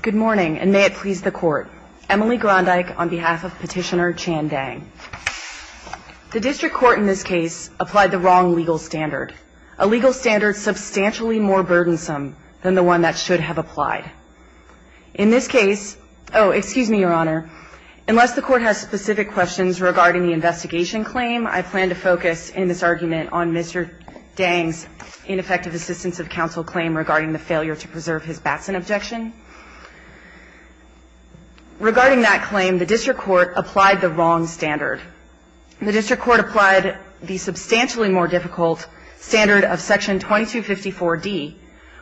Good morning, and may it please the court. Emily Grondyke on behalf of Petitioner Chanh Dang. The district court in this case applied the wrong legal standard, a legal standard substantially more burdensome than the one that should have applied. In this case, oh excuse me your honor, unless the court has specific questions regarding the investigation claim, I plan to focus in this argument on Mr. Dang's ineffective assistance of counsel claim regarding the failure to preserve his Batson objection. Regarding that claim, the district court applied the wrong standard. The district court applied the substantially more difficult standard of section 2254 D,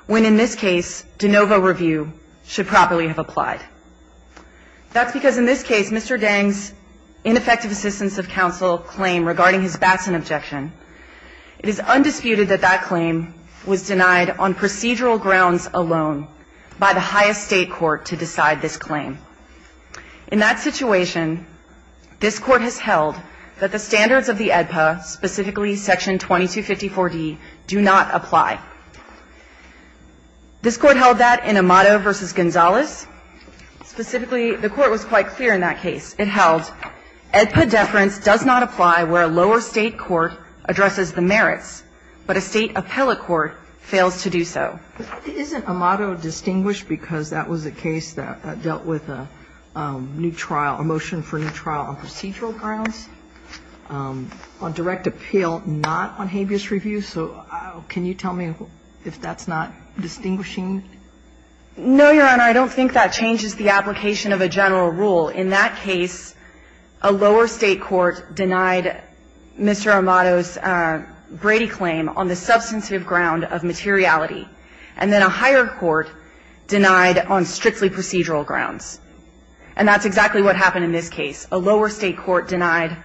when in this case, de novo review should properly have applied. That's because in this case, Mr. Dang's ineffective assistance of counsel claim regarding his Batson objection. It is undisputed that that claim was denied on procedural grounds alone by the highest state court to decide this claim. In that situation, this court has held that the standards of the AEDPA, specifically section 2254 D, do not apply. This court held that in Amato v. Gonzalez. Specifically, the court was quite clear in that case. It held AEDPA deference does not apply where a lower state court addresses the merits, but a state appellate court fails to do so. Isn't Amato distinguished because that was a case that dealt with a new trial, a motion for a new trial on procedural grounds, on direct appeal, not on habeas review? So can you tell me if that's not distinguishing? No, your honor. I don't think that changes the application of a general rule. In that case, a lower state court denied Mr. Amato's Brady claim on the substantive ground of materiality, and then a higher court denied on strictly procedural grounds. And that's exactly what happened in this case. A lower state court denied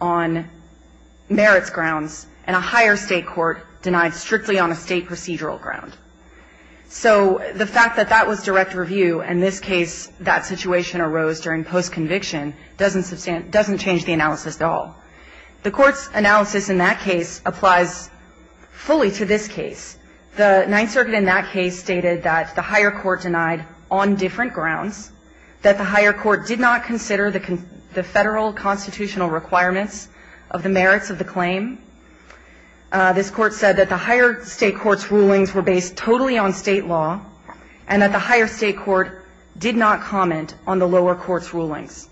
on merits grounds, and a higher state court denied strictly on a state procedural ground. So the fact that that was direct review in this case, that situation arose during post-conviction, doesn't change the analysis at all. The Court's analysis in that case applies fully to this case. The Ninth Circuit in that case stated that the higher court denied on different grounds, that the higher court did not consider the Federal constitutional requirements of the merits of the claim. This Court said that the higher state court's rulings were based totally on state law, and that the higher state court did not comment on the lower court's rulings.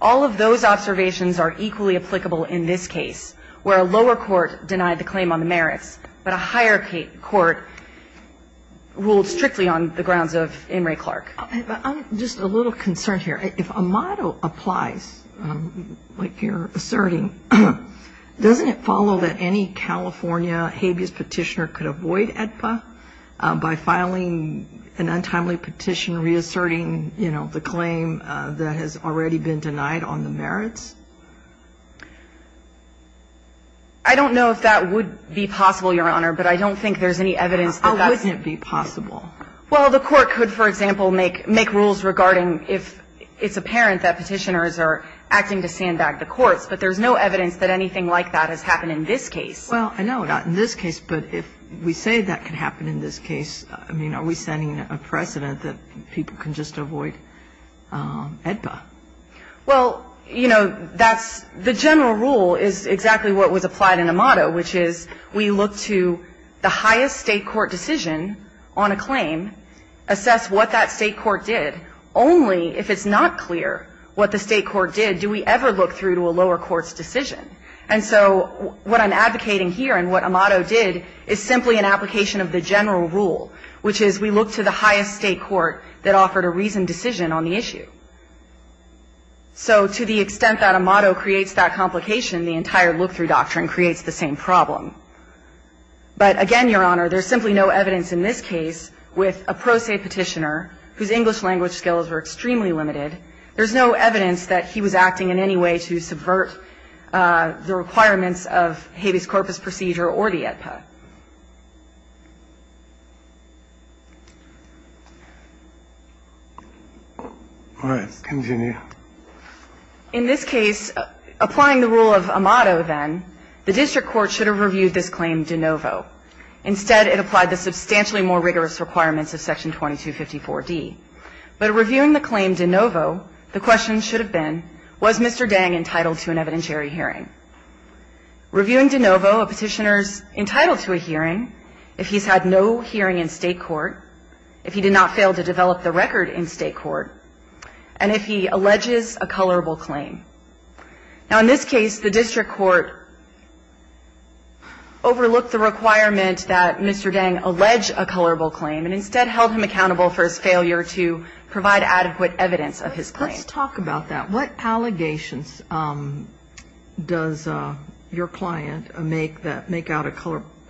All of those observations are equally applicable in this case, where a lower court denied the claim on the merits, but a higher court ruled strictly on the grounds of In re Clark. I'm just a little concerned here. If a motto applies, like you're asserting, doesn't it follow that any California habeas petitioner could avoid AEDPA by filing an untimely petition reasserting, you know, the claim that has already been denied on the merits? I don't know if that would be possible, Your Honor, but I don't think there's any evidence that that would be possible. Well, the Court could, for example, make rules regarding if it's apparent that petitioners are acting to stand back the courts, but there's no evidence that anything like that has happened in this case. Well, I know not in this case, but if we say that could happen in this case, I mean, are we setting a precedent that people can just avoid AEDPA? Well, you know, that's the general rule is exactly what was applied in Amado, which is we look to the highest state court decision on a claim, assess what that state court did, only if it's not clear what the state court did do we ever look through to a lower court's decision. And so what I'm advocating here and what Amado did is simply an application of the general rule, which is we look to the highest state court that offered a reasoned decision on the issue. So to the extent that Amado creates that complication, the entire look-through And so the question is how is it that the same kind of doctrine creates the same problem. But again, Your Honor, there's simply no evidence in this case with a pro se petitioner whose English-language skills are extremely limited. There's no evidence that he was acting in any way to subvert the requirements of habeas corpus procedure or the AEDPA. In this case, applying the rule of Amato, then, the district court should have reviewed this claim de novo. Instead, it applied the substantially more rigorous requirements of Section 2254d. But reviewing the claim de novo, the question should have been, was Mr. Dang entitled to an evidentiary hearing? Reviewing de novo, a petitioner's entitled to a hearing if he's had no hearing in State court, if he did not fail to develop the record in State court, and if he alleges a colorable claim. Now, in this case, the district court overlooked the requirement that Mr. Dang allege a colorable claim and instead held him accountable for his failure to provide adequate evidence of his claim. Kagan, let's talk about that. What allegations does your client make that make out a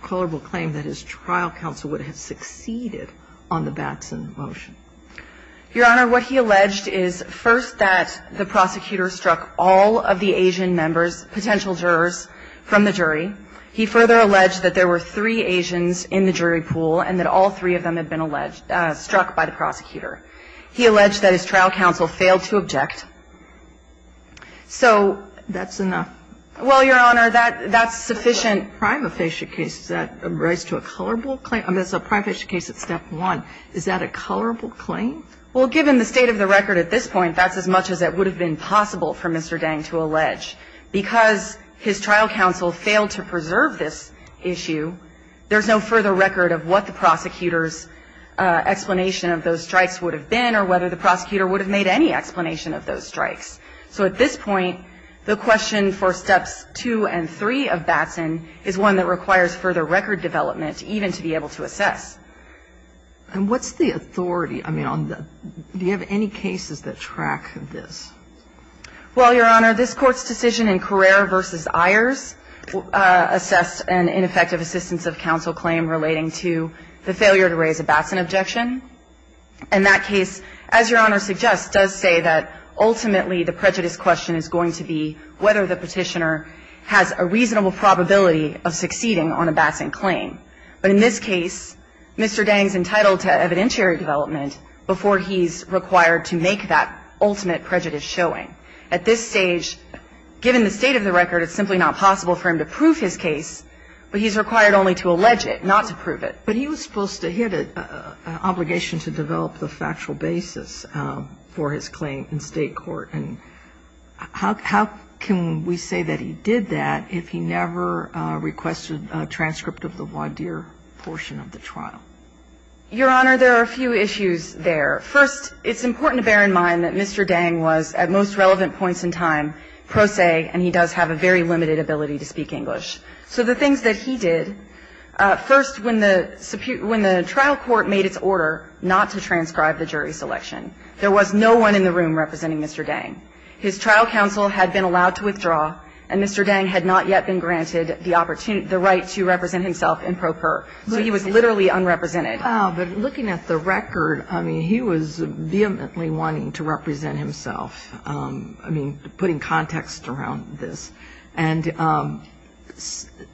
colorable claim that his trial counsel would have succeeded on the Batson motion? Your Honor, what he alleged is, first, that the prosecutor struck all of the Asian members, potential jurors, from the jury. He further alleged that there were three Asians in the jury pool and that all three of them had been struck by the prosecutor. He alleged that his trial counsel failed to object. So that's enough. Well, Your Honor, that's sufficient. A prime official case, does that raise to a colorable claim? I mean, it's a prime official case at step one. Is that a colorable claim? Well, given the state of the record at this point, that's as much as it would have been possible for Mr. Dang to allege. Because his trial counsel failed to preserve this issue, there's no further record of what the prosecutor's explanation of those strikes would have been or whether the prosecutor would have made any explanation of those strikes. So at this point, the question for steps two and three of Batson is one that requires further record development even to be able to assess. And what's the authority? I mean, do you have any cases that track this? Well, Your Honor, this Court's decision in Carrere v. Ayers assessed an ineffective assistance of counsel claim relating to the failure to raise a Batson objection. And that case, as Your Honor suggests, does say that ultimately the prejudice question is going to be whether the Petitioner has a reasonable probability of succeeding on a Batson claim. But in this case, Mr. Dang's entitled to evidentiary development before he's required to make that ultimate prejudice showing. At this stage, given the state of the record, it's simply not possible for him to prove his case, but he's required only to allege it, not to prove it. But he was supposed to have an obligation to develop the factual basis for his claim in State court. And how can we say that he did that if he never requested a transcript of the voir dire portion of the trial? Your Honor, there are a few issues there. First, it's important to bear in mind that Mr. Dang was, at most relevant points in time, pro se, and he does have a very limited ability to speak English. So the things that he did, first, when the trial court made its order not to transcribe the jury selection, there was no one in the room representing Mr. Dang. His trial counsel had been allowed to withdraw, and Mr. Dang had not yet been granted the right to represent himself in pro per. So he was literally unrepresented. But looking at the record, I mean, he was vehemently wanting to represent himself, I mean, putting context around this. And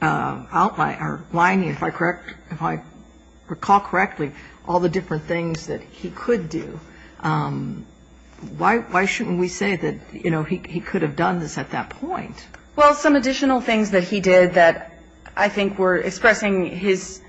outlining, if I recall correctly, all the different things that he could do, why shouldn't we say that, you know, he could have done this at that point? Well, some additional things that he did that I think were expressing his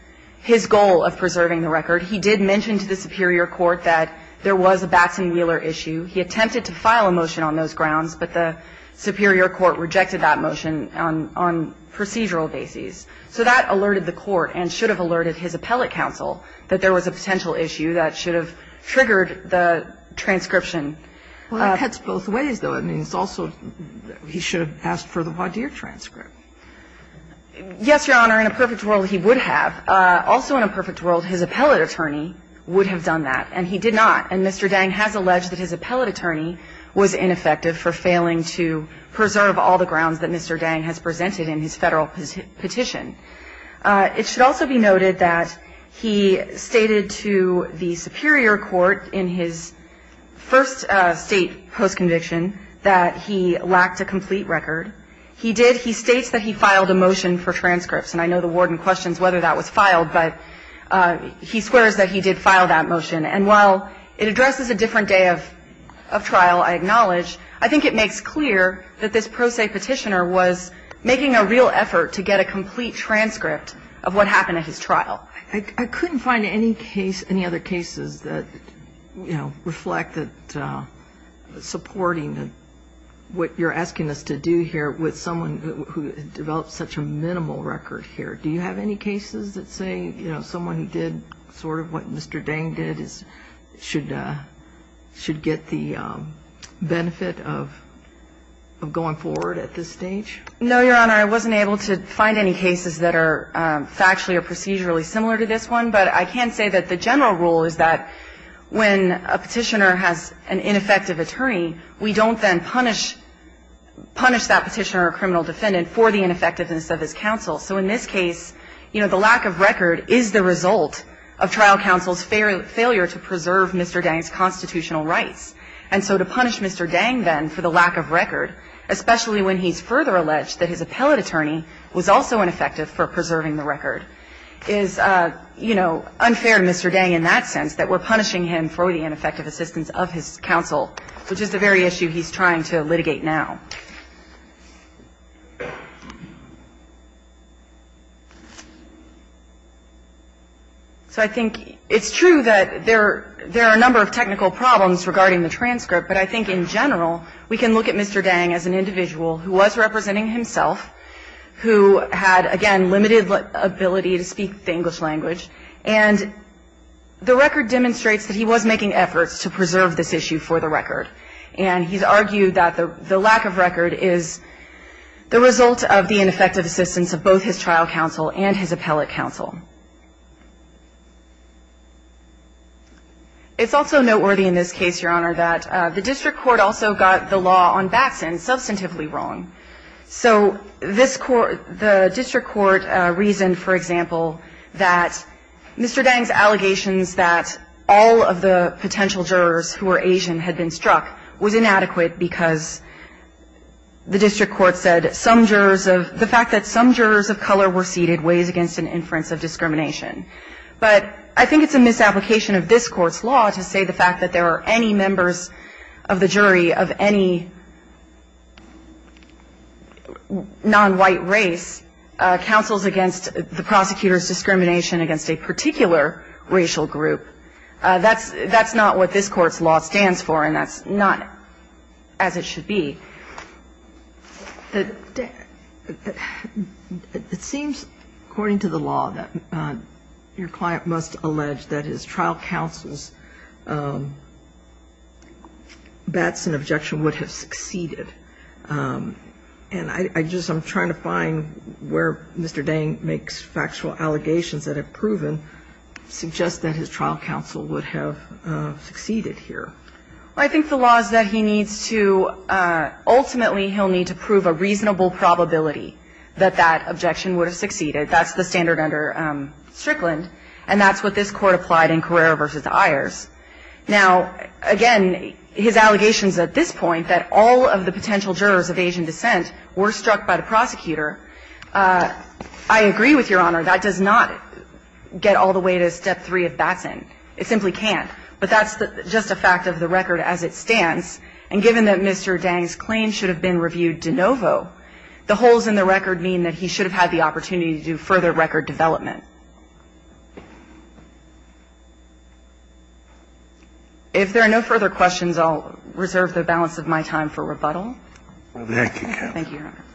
goal of preserving the record. He did mention to the superior court that there was a Batson-Wheeler issue. He attempted to file a motion on those grounds, but the superior court rejected that motion on procedural bases. So that alerted the court and should have alerted his appellate counsel that there was a potential issue that should have triggered the transcription. Well, it cuts both ways, though. I mean, it's also he should have asked for the Wadeer transcript. Yes, Your Honor. In a perfect world, he would have. Also in a perfect world, his appellate attorney would have done that. And he did not. And Mr. Dang has alleged that his appellate attorney was ineffective for failing to preserve all the grounds that Mr. Dang has presented in his Federal petition. It should also be noted that he stated to the superior court in his first State post-conviction that he lacked a complete record. He did he states that he filed a motion for transcripts. And I know the warden questions whether that was filed, but he swears that he did file that motion. And while it addresses a different day of trial, I acknowledge, I think it makes clear that this pro se petitioner was making a real effort to get a complete transcript of what happened at his trial. I couldn't find any case, any other cases that, you know, reflect that supporting what you're asking us to do here with someone who developed such a minimal record here. Do you have any cases that say, you know, someone did sort of what Mr. Dang did should get the benefit of going forward at this stage? No, Your Honor. I wasn't able to find any cases that are factually or procedurally similar to this one. But I can say that the general rule is that when a petitioner has an ineffective attorney, we don't then punish that petitioner or criminal defendant for the ineffectiveness of his counsel. So in this case, you know, the lack of record is the result of trial counsel's failure to preserve Mr. Dang's constitutional rights. And so to punish Mr. Dang, then, for the lack of record, especially when he's further alleged that his appellate attorney was also ineffective for preserving the record, is, you know, unfair to Mr. Dang in that sense, that we're punishing him for the ineffective assistance of his counsel, which is the very issue he's trying to litigate now. So I think it's true that there are a number of technical problems regarding the transcript, but I think in general, we can look at Mr. Dang as an individual who was representing himself, who had, again, limited ability to speak the English language, and the record demonstrates that he was making efforts to preserve this issue for the record. And he's argued that the lack of record is the result of the ineffective assistance of both his trial counsel and his appellate counsel. It's also noteworthy in this case, Your Honor, that the district court also got the law on Batson substantively wrong. So this court, the district court reasoned, for example, that Mr. Dang's allegations that all of the potential jurors who were Asian had been struck was inadequate because the district court said some jurors of the fact that some jurors of color were seated weighs against an inference of discrimination. But I think it's a misapplication of this Court's law to say the fact that there were any members of the jury of any nonwhite race counsels against the prosecutor's discrimination against a particular racial group. That's not what this Court's law stands for, and that's not as it should be. It seems, according to the law, that your client must allege that his trial counsel's Batson objection would have succeeded. And I just am trying to find where Mr. Dang makes factual allegations that have proven suggest that his trial counsel would have succeeded here. Well, I think the law is that he needs to ultimately he'll need to prove a reasonable probability that that objection would have succeeded. That's the standard under Strickland, and that's what this Court applied in Carrera v. Ayers. Now, again, his allegations at this point that all of the potential jurors of Asian descent were struck by the prosecutor, I agree with Your Honor. That does not get all the way to Step 3 of Batson. It simply can't. But that's just a fact of the record as it stands. And given that Mr. Dang's claim should have been reviewed de novo, the holes in the record mean that he should have had the opportunity to do further record development. If there are no further questions, I'll reserve the balance of my time for rebuttal. Thank you, Your Honor.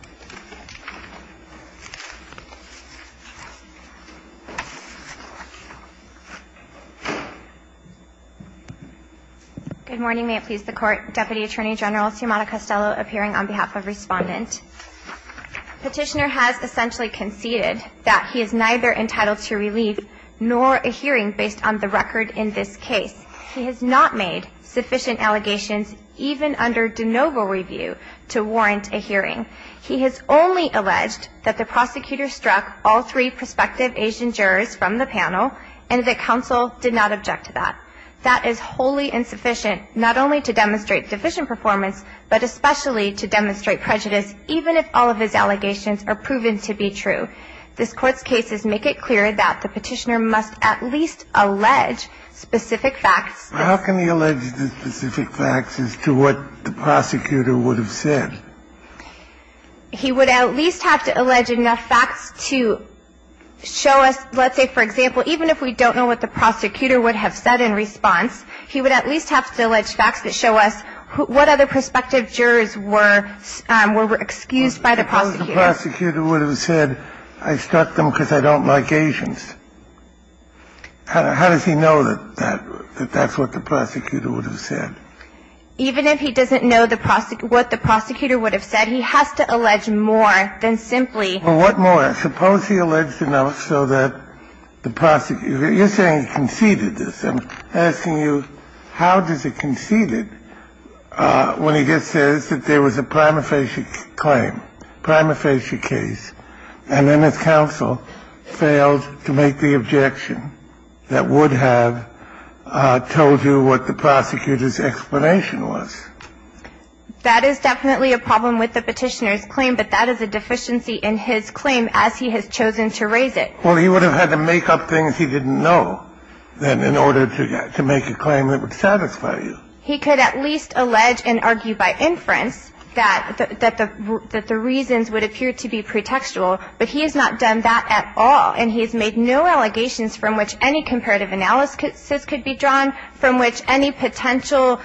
Good morning. May it please the Court. Deputy Attorney General Sciamatta-Costello appearing on behalf of Respondent. Petitioner has essentially conceded that he is neither entitled nor authorized to be entitled to relief, nor a hearing based on the record in this case. He has not made sufficient allegations, even under de novo review, to warrant a hearing. He has only alleged that the prosecutor struck all three prospective Asian jurors from the panel, and that counsel did not object to that. That is wholly insufficient, not only to demonstrate deficient performance, but especially to demonstrate prejudice, even if all of his allegations are proven to be true. This Court's cases make it clear that the petitioner must at least allege specific facts. How can he allege the specific facts as to what the prosecutor would have said? He would at least have to allege enough facts to show us, let's say, for example, even if we don't know what the prosecutor would have said in response, he would at least have to allege facts that show us what other prospective jurors were, were excused by the prosecutor. If the prosecutor would have said, I struck them because I don't like Asians, how does he know that that's what the prosecutor would have said? Even if he doesn't know what the prosecutor would have said, he has to allege more than simply. Well, what more? Suppose he alleged enough so that the prosecutor – you're saying he conceded this. I'm asking you, how does he concede it when he just says that there was a prima facie case and then his counsel failed to make the objection that would have told you what the prosecutor's explanation was? That is definitely a problem with the petitioner's claim, but that is a deficiency in his claim as he has chosen to raise it. Well, he would have had to make up things he didn't know then in order to make a claim that would satisfy you. He could at least allege and argue by inference that the reasons would appear to be pretextual, but he has not done that at all, and he has made no allegations from which any comparative analysis could be drawn, from which any potential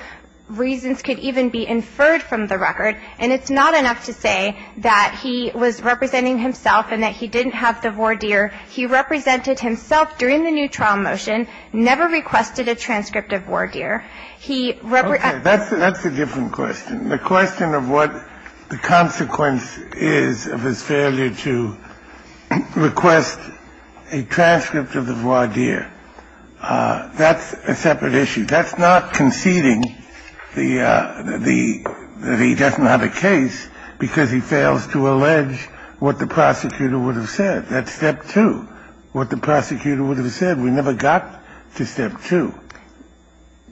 reasons could even be inferred from the record, and it's not enough to say that he was representing himself and that he didn't have the voir dire. He represented himself during the new trial motion, never requested a transcript of voir dire. He represented himself. Okay. That's a different question. The question of what the consequence is of his failure to request a transcript of the voir dire, that's a separate issue. That's not conceding the the that he doesn't have a case because he fails to allege what the prosecutor would have said. That's step two, what the prosecutor would have said. We never got to step two.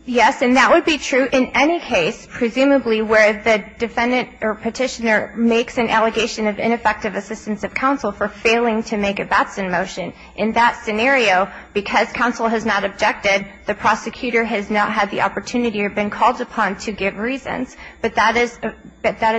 Yes, and that would be true in any case, presumably where the defendant or Petitioner makes an allegation of ineffective assistance of counsel for failing to make a Batson motion. In that scenario, because counsel has not objected, the prosecutor has not had the opportunity or been called upon to give reasons, but that is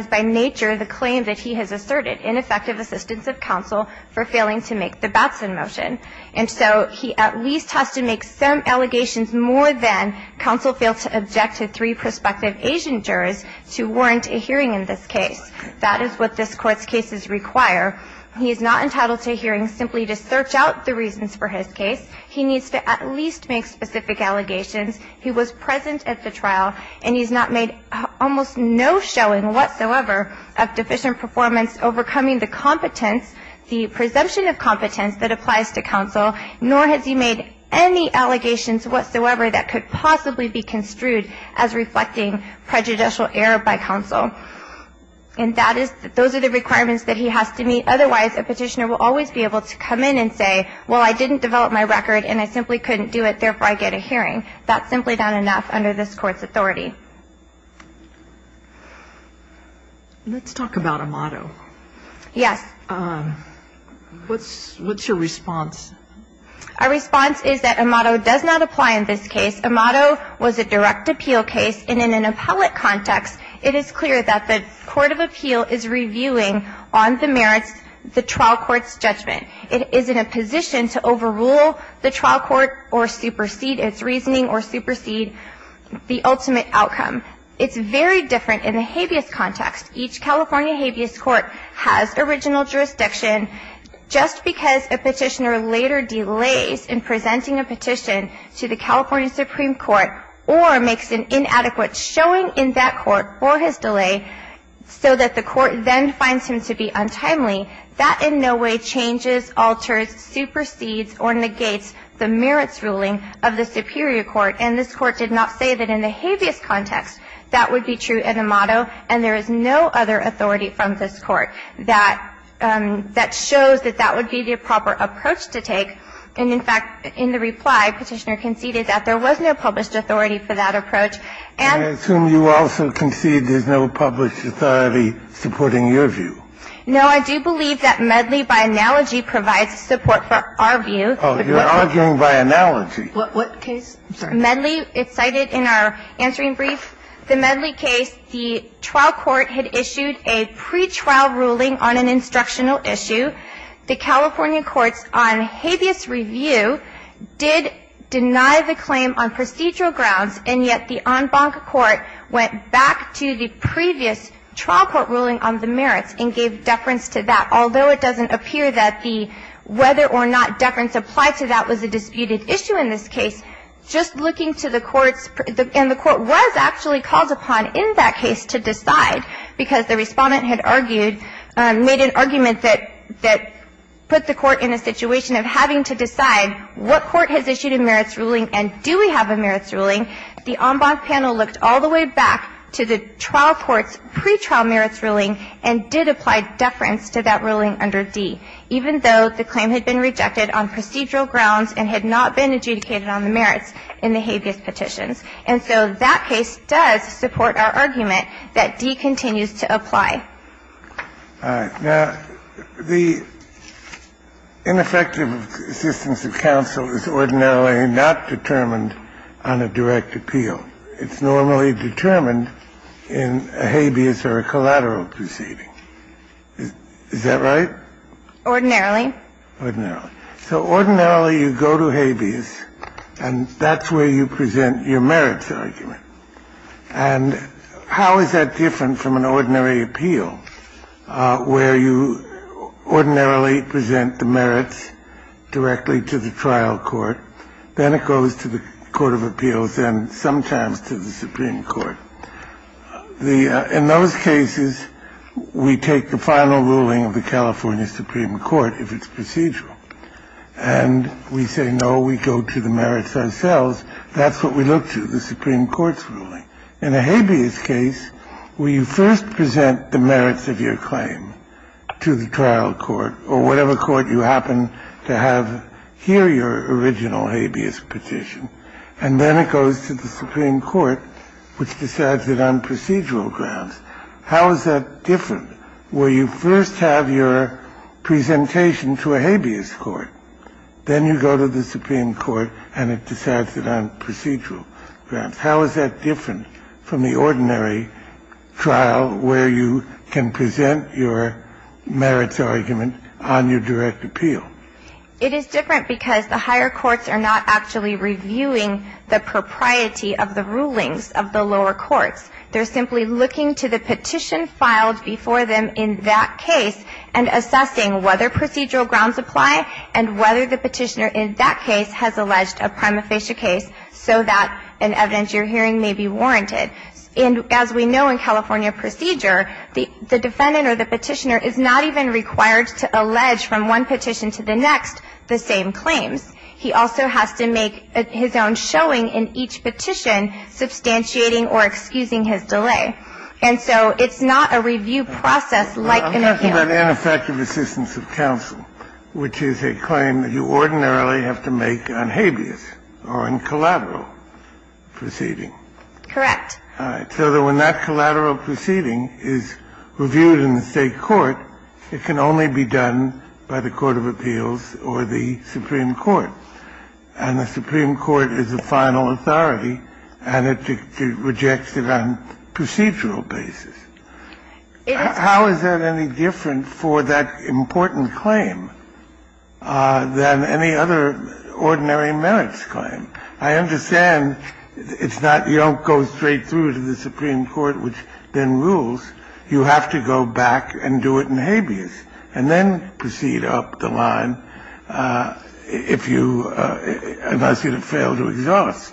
by nature the claim that he has asserted, ineffective assistance of counsel for failing to make the Batson motion. And so he at least has to make some allegations more than counsel failed to object to three prospective Asian jurors to warrant a hearing in this case. That is what this Court's cases require. He is not entitled to a hearing simply to search out the reasons for his case. He needs to at least make specific allegations. He was present at the trial, and he's not made almost no showing whatsoever of deficient performance overcoming the competence, the presumption of competence that applies to counsel, nor has he made any allegations whatsoever that could possibly be construed as reflecting prejudicial error by counsel. And that is, those are the requirements that he has to meet. Otherwise, a Petitioner will always be able to come in and say, well, I didn't develop my record, and I simply couldn't do it, therefore I get a hearing. That's simply not enough under this Court's authority. Let's talk about a motto. Yes. What's your response? Our response is that a motto does not apply in this case. A motto was a direct appeal case, and in an appellate context, it is clear that the court of appeal is reviewing on the merits the trial court's judgment. It is in a position to overrule the trial court or supersede its reasoning or supersede the ultimate outcome. It's very different in the habeas context. Each California habeas court has original jurisdiction. Just because a Petitioner later delays in presenting a petition to the California Supreme Court or makes an inadequate showing in that court for his delay so that the court then finds him to be untimely, that in no way changes, alters, supersedes or negates the merits ruling of the superior court. And this Court did not say that in the habeas context that would be true in a motto, and there is no other authority from this Court that shows that that would be the proper approach to take. And, in fact, in the reply, Petitioner conceded that there was no published authority for that approach. And we assume you also concede there's no published authority supporting your view. No, I do believe that Medley, by analogy, provides support for our view. Oh, you're arguing by analogy. What case? Medley, it's cited in our answering brief. The Medley case, the trial court had issued a pretrial ruling on an instructional issue. The California courts on habeas review did deny the claim on procedural grounds, and yet the en banc court went back to the previous trial court ruling on the merits and gave deference to that, although it doesn't appear that the whether or not deference applied to that was a disputed issue in this case. Just looking to the courts, and the court was actually called upon in that case to decide because the Respondent had argued, made an argument that put the court in a situation of having to decide what court has issued a merits ruling and do we have a merits ruling, the en banc panel looked all the way back to the trial court's pretrial ruling and did apply deference to that ruling under D, even though the claim had been rejected on procedural grounds and had not been adjudicated on the merits in the habeas petitions. And so that case does support our argument that D continues to apply. All right. Now, the ineffective assistance of counsel is ordinarily not determined on a direct appeal. It's normally determined in a habeas or a collateral proceeding. Is that right? Ordinarily. Ordinarily. So ordinarily you go to habeas and that's where you present your merits argument. And how is that different from an ordinary appeal where you ordinarily present the merits directly to the trial court, then it goes to the court of appeals and sometimes to the Supreme Court? In those cases, we take the final ruling of the California Supreme Court if it's procedural and we say, no, we go to the merits ourselves. That's what we look to, the Supreme Court's ruling. In a habeas case, where you first present the merits of your claim to the trial court or whatever court you happen to have here your original habeas petition, and then it goes to the Supreme Court, which decides it on procedural grounds, how is that different where you first have your presentation to a habeas court? Then you go to the Supreme Court and it decides it on procedural grounds. How is that different from the ordinary trial where you can present your merits argument on your direct appeal? It is different because the higher courts are not actually reviewing the propriety of the rulings of the lower courts. They're simply looking to the petition filed before them in that case and assessing whether procedural grounds apply and whether the petitioner in that case has alleged a prima facie case so that an evidence you're hearing may be warranted. And as we know in California procedure, the defendant or the petitioner is not even required to allege from one petition to the next the same claims. He also has to make his own showing in each petition, substantiating or excusing his delay. And so it's not a review process like an appeal. Kennedy, I'm talking about ineffective assistance of counsel, which is a claim that you ordinarily have to make on habeas or on collateral proceeding. Correct. So when that collateral proceeding is reviewed in the State court, it can only be done by the court of appeals or the Supreme Court. And the Supreme Court is the final authority, and it rejects it on procedural basis. How is that any different for that important claim than any other ordinary merits claim? I understand it's not you don't go straight through to the Supreme Court, which then rules. You have to go back and do it in habeas, and then proceed up the line if you unless you fail to exhaust.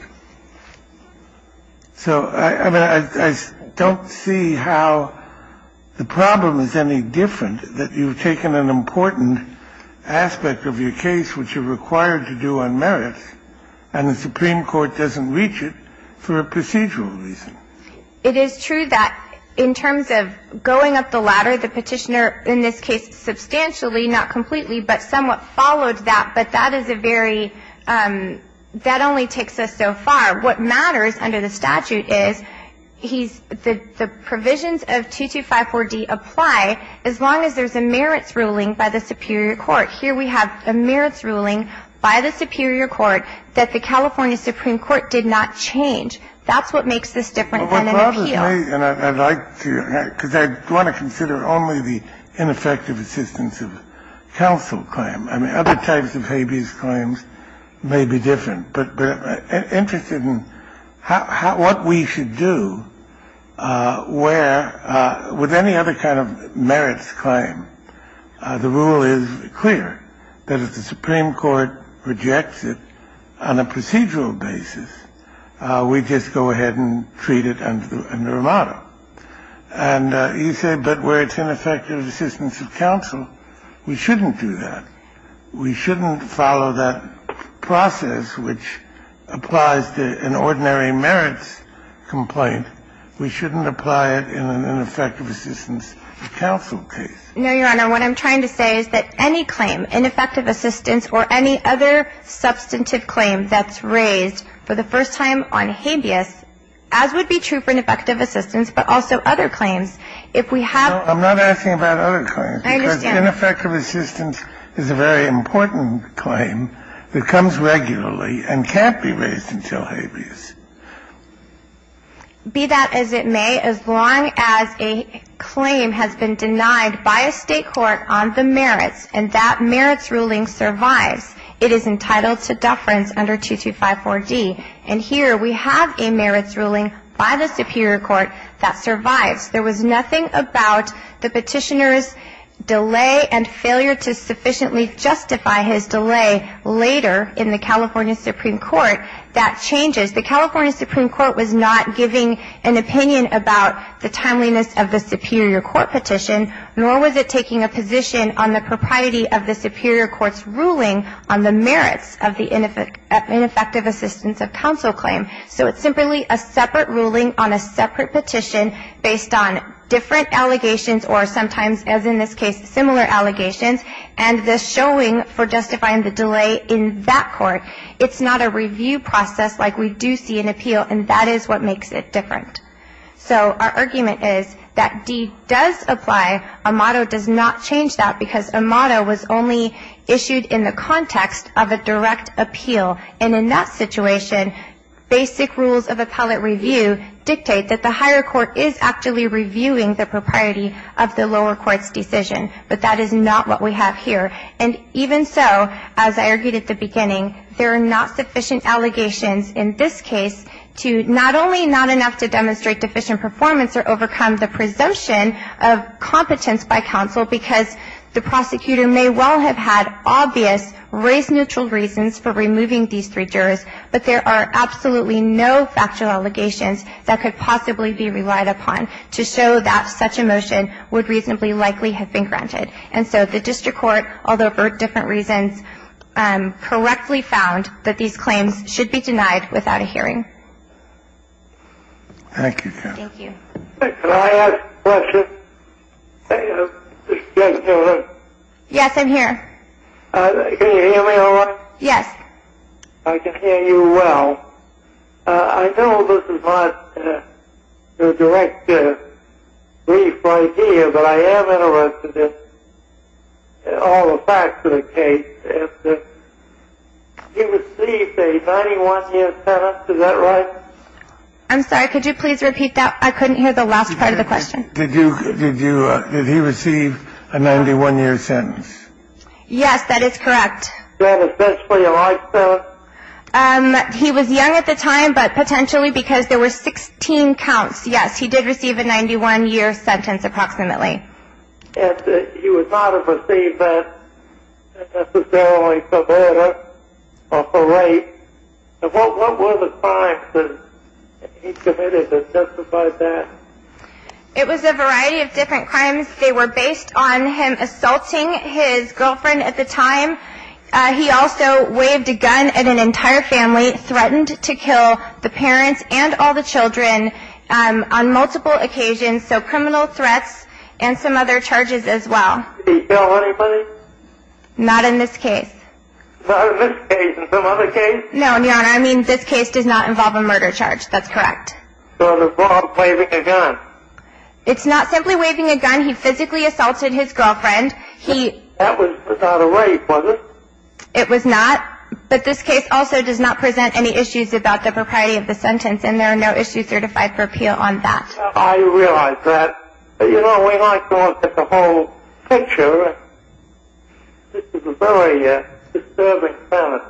So I don't see how the problem is any different, that you've taken an important aspect of your case, which you're required to do on merits, and the Supreme Court doesn't reach it for a procedural reason. It is true that in terms of going up the ladder, the Petitioner in this case substantially, not completely, but somewhat followed that. But that is a very – that only takes us so far. What matters under the statute is he's – the provisions of 2254d apply as long as there's a merits ruling by the superior court. Here we have a merits ruling by the superior court that the California Supreme Court did not change. That's what makes this different than an appeal. Well, what bothers me, and I'd like to – because I want to consider only the ineffective assistance of counsel claim. I mean, other types of habeas claims may be different. But I'm interested in how – what we should do where – with any other kind of merits claim, the rule is clear, that if the Supreme Court rejects it on a procedural basis, we just go ahead and treat it under a motto. And you say, but where it's ineffective assistance of counsel, we shouldn't do that. We shouldn't follow that process, which applies to an ordinary merits complaint. We shouldn't apply it in an ineffective assistance of counsel case. No, Your Honor. What I'm trying to say is that any claim, ineffective assistance or any other substantive claim that's raised for the first time on habeas, as would be true for ineffective assistance, but also other claims, if we have – I'm not asking about other claims. I understand. Ineffective assistance is a very important claim that comes regularly and can't be raised until habeas. Be that as it may, as long as a claim has been denied by a State court on the merits and that merits ruling survives, it is entitled to deference under 2254D. And here we have a merits ruling by the superior court that survives. There was nothing about the petitioner's delay and failure to sufficiently justify his delay later in the California Supreme Court that changes. The California Supreme Court was not giving an opinion about the timeliness of the superior court petition, nor was it taking a position on the propriety of the superior court's ruling on the merits of the ineffective assistance of counsel claim. So it's simply a separate ruling on a separate petition based on different allegations or sometimes, as in this case, similar allegations and the showing for justifying the delay in that court. It's not a review process like we do see in appeal, and that is what makes it different. So our argument is that D does apply. Amato does not change that because Amato was only issued in the context of a direct appeal, and in that situation, basic rules of appellate review dictate that the higher court is actually reviewing the propriety of the lower court's decision. But that is not what we have here. And even so, as I argued at the beginning, there are not sufficient allegations in this case to not only not enough to demonstrate deficient performance or overcome the presumption of competence by counsel because the prosecutor may well have had obvious, race-neutral reasons for removing these three jurors, but there are absolutely no factual allegations that could possibly be relied upon to show that such a motion would reasonably likely have been granted. And so the district court, although for different reasons, correctly found that these claims should be denied without a hearing. Thank you. Can I ask a question? Yes, you can. Yes, I'm here. Can you hear me all right? Yes. I can hear you well. I know this is not a direct brief idea, but I am interested in all the facts of the case. You received a 91-year sentence, is that right? I'm sorry, could you please repeat that? I couldn't hear the last part of the question. Did he receive a 91-year sentence? Yes, that is correct. Then essentially a life sentence? He was young at the time, but potentially because there were 16 counts, yes, he did receive a 91-year sentence approximately. And he would not have received that necessarily for murder or for rape. What were the times that he committed that justified that? It was a variety of different crimes. They were based on him assaulting his girlfriend at the time. He also waved a gun at an entire family, threatened to kill the parents and all the children on multiple occasions. So criminal threats and some other charges as well. Did he kill anybody? Not in this case. Not in this case, in some other case? No, Your Honor, I mean this case does not involve a murder charge, that's correct. It does not involve waving a gun? It's not simply waving a gun, he physically assaulted his girlfriend. That was not a rape, was it? It was not, but this case also does not present any issues about the propriety of the sentence and there are no issues certified for appeal on that. I realize that. You know, we might go on for the whole picture. This is a very disturbing sentence.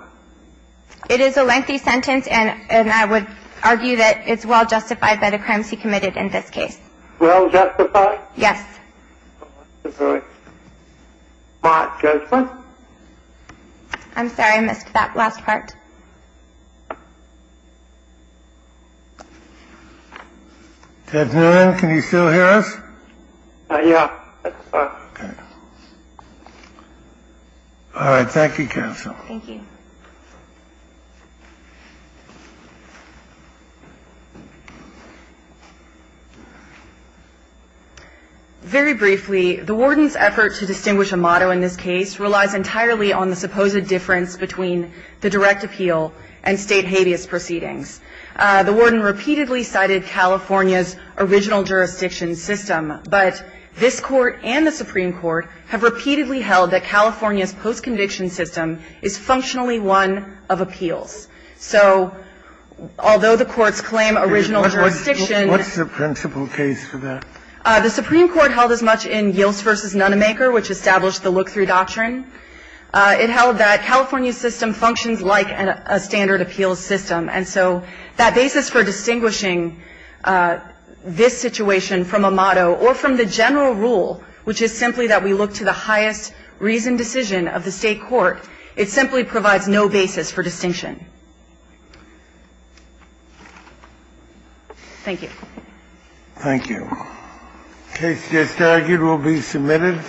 It is a lengthy sentence and I would argue that it's well justified that a crime was committed in this case. Well justified? Yes. All right. Mark Judgeman? I'm sorry, I missed that last part. Judge Newman, can you still hear us? Yeah, it's fine. Okay. All right, thank you, counsel. Thank you. Very briefly, the warden's effort to distinguish a motto in this case relies entirely on the supposed difference between the direct appeal and state habeas proceedings. The warden repeatedly cited California's original jurisdiction system, but this court and the Supreme Court have repeatedly held that California's post-conviction system is functionally one of appeals. So although the courts claim original jurisdiction What's the principal case for that? The Supreme Court held as much in Yields v. Nonemaker, which established the look-through doctrine. It held that California's system functions like a standard appeals system. And so that basis for distinguishing this situation from a motto or from the general rule, which is simply that we look to the highest reasoned decision of the state court, it simply provides no basis for distinction. Thank you. Thank you. The case is now due to be submitted.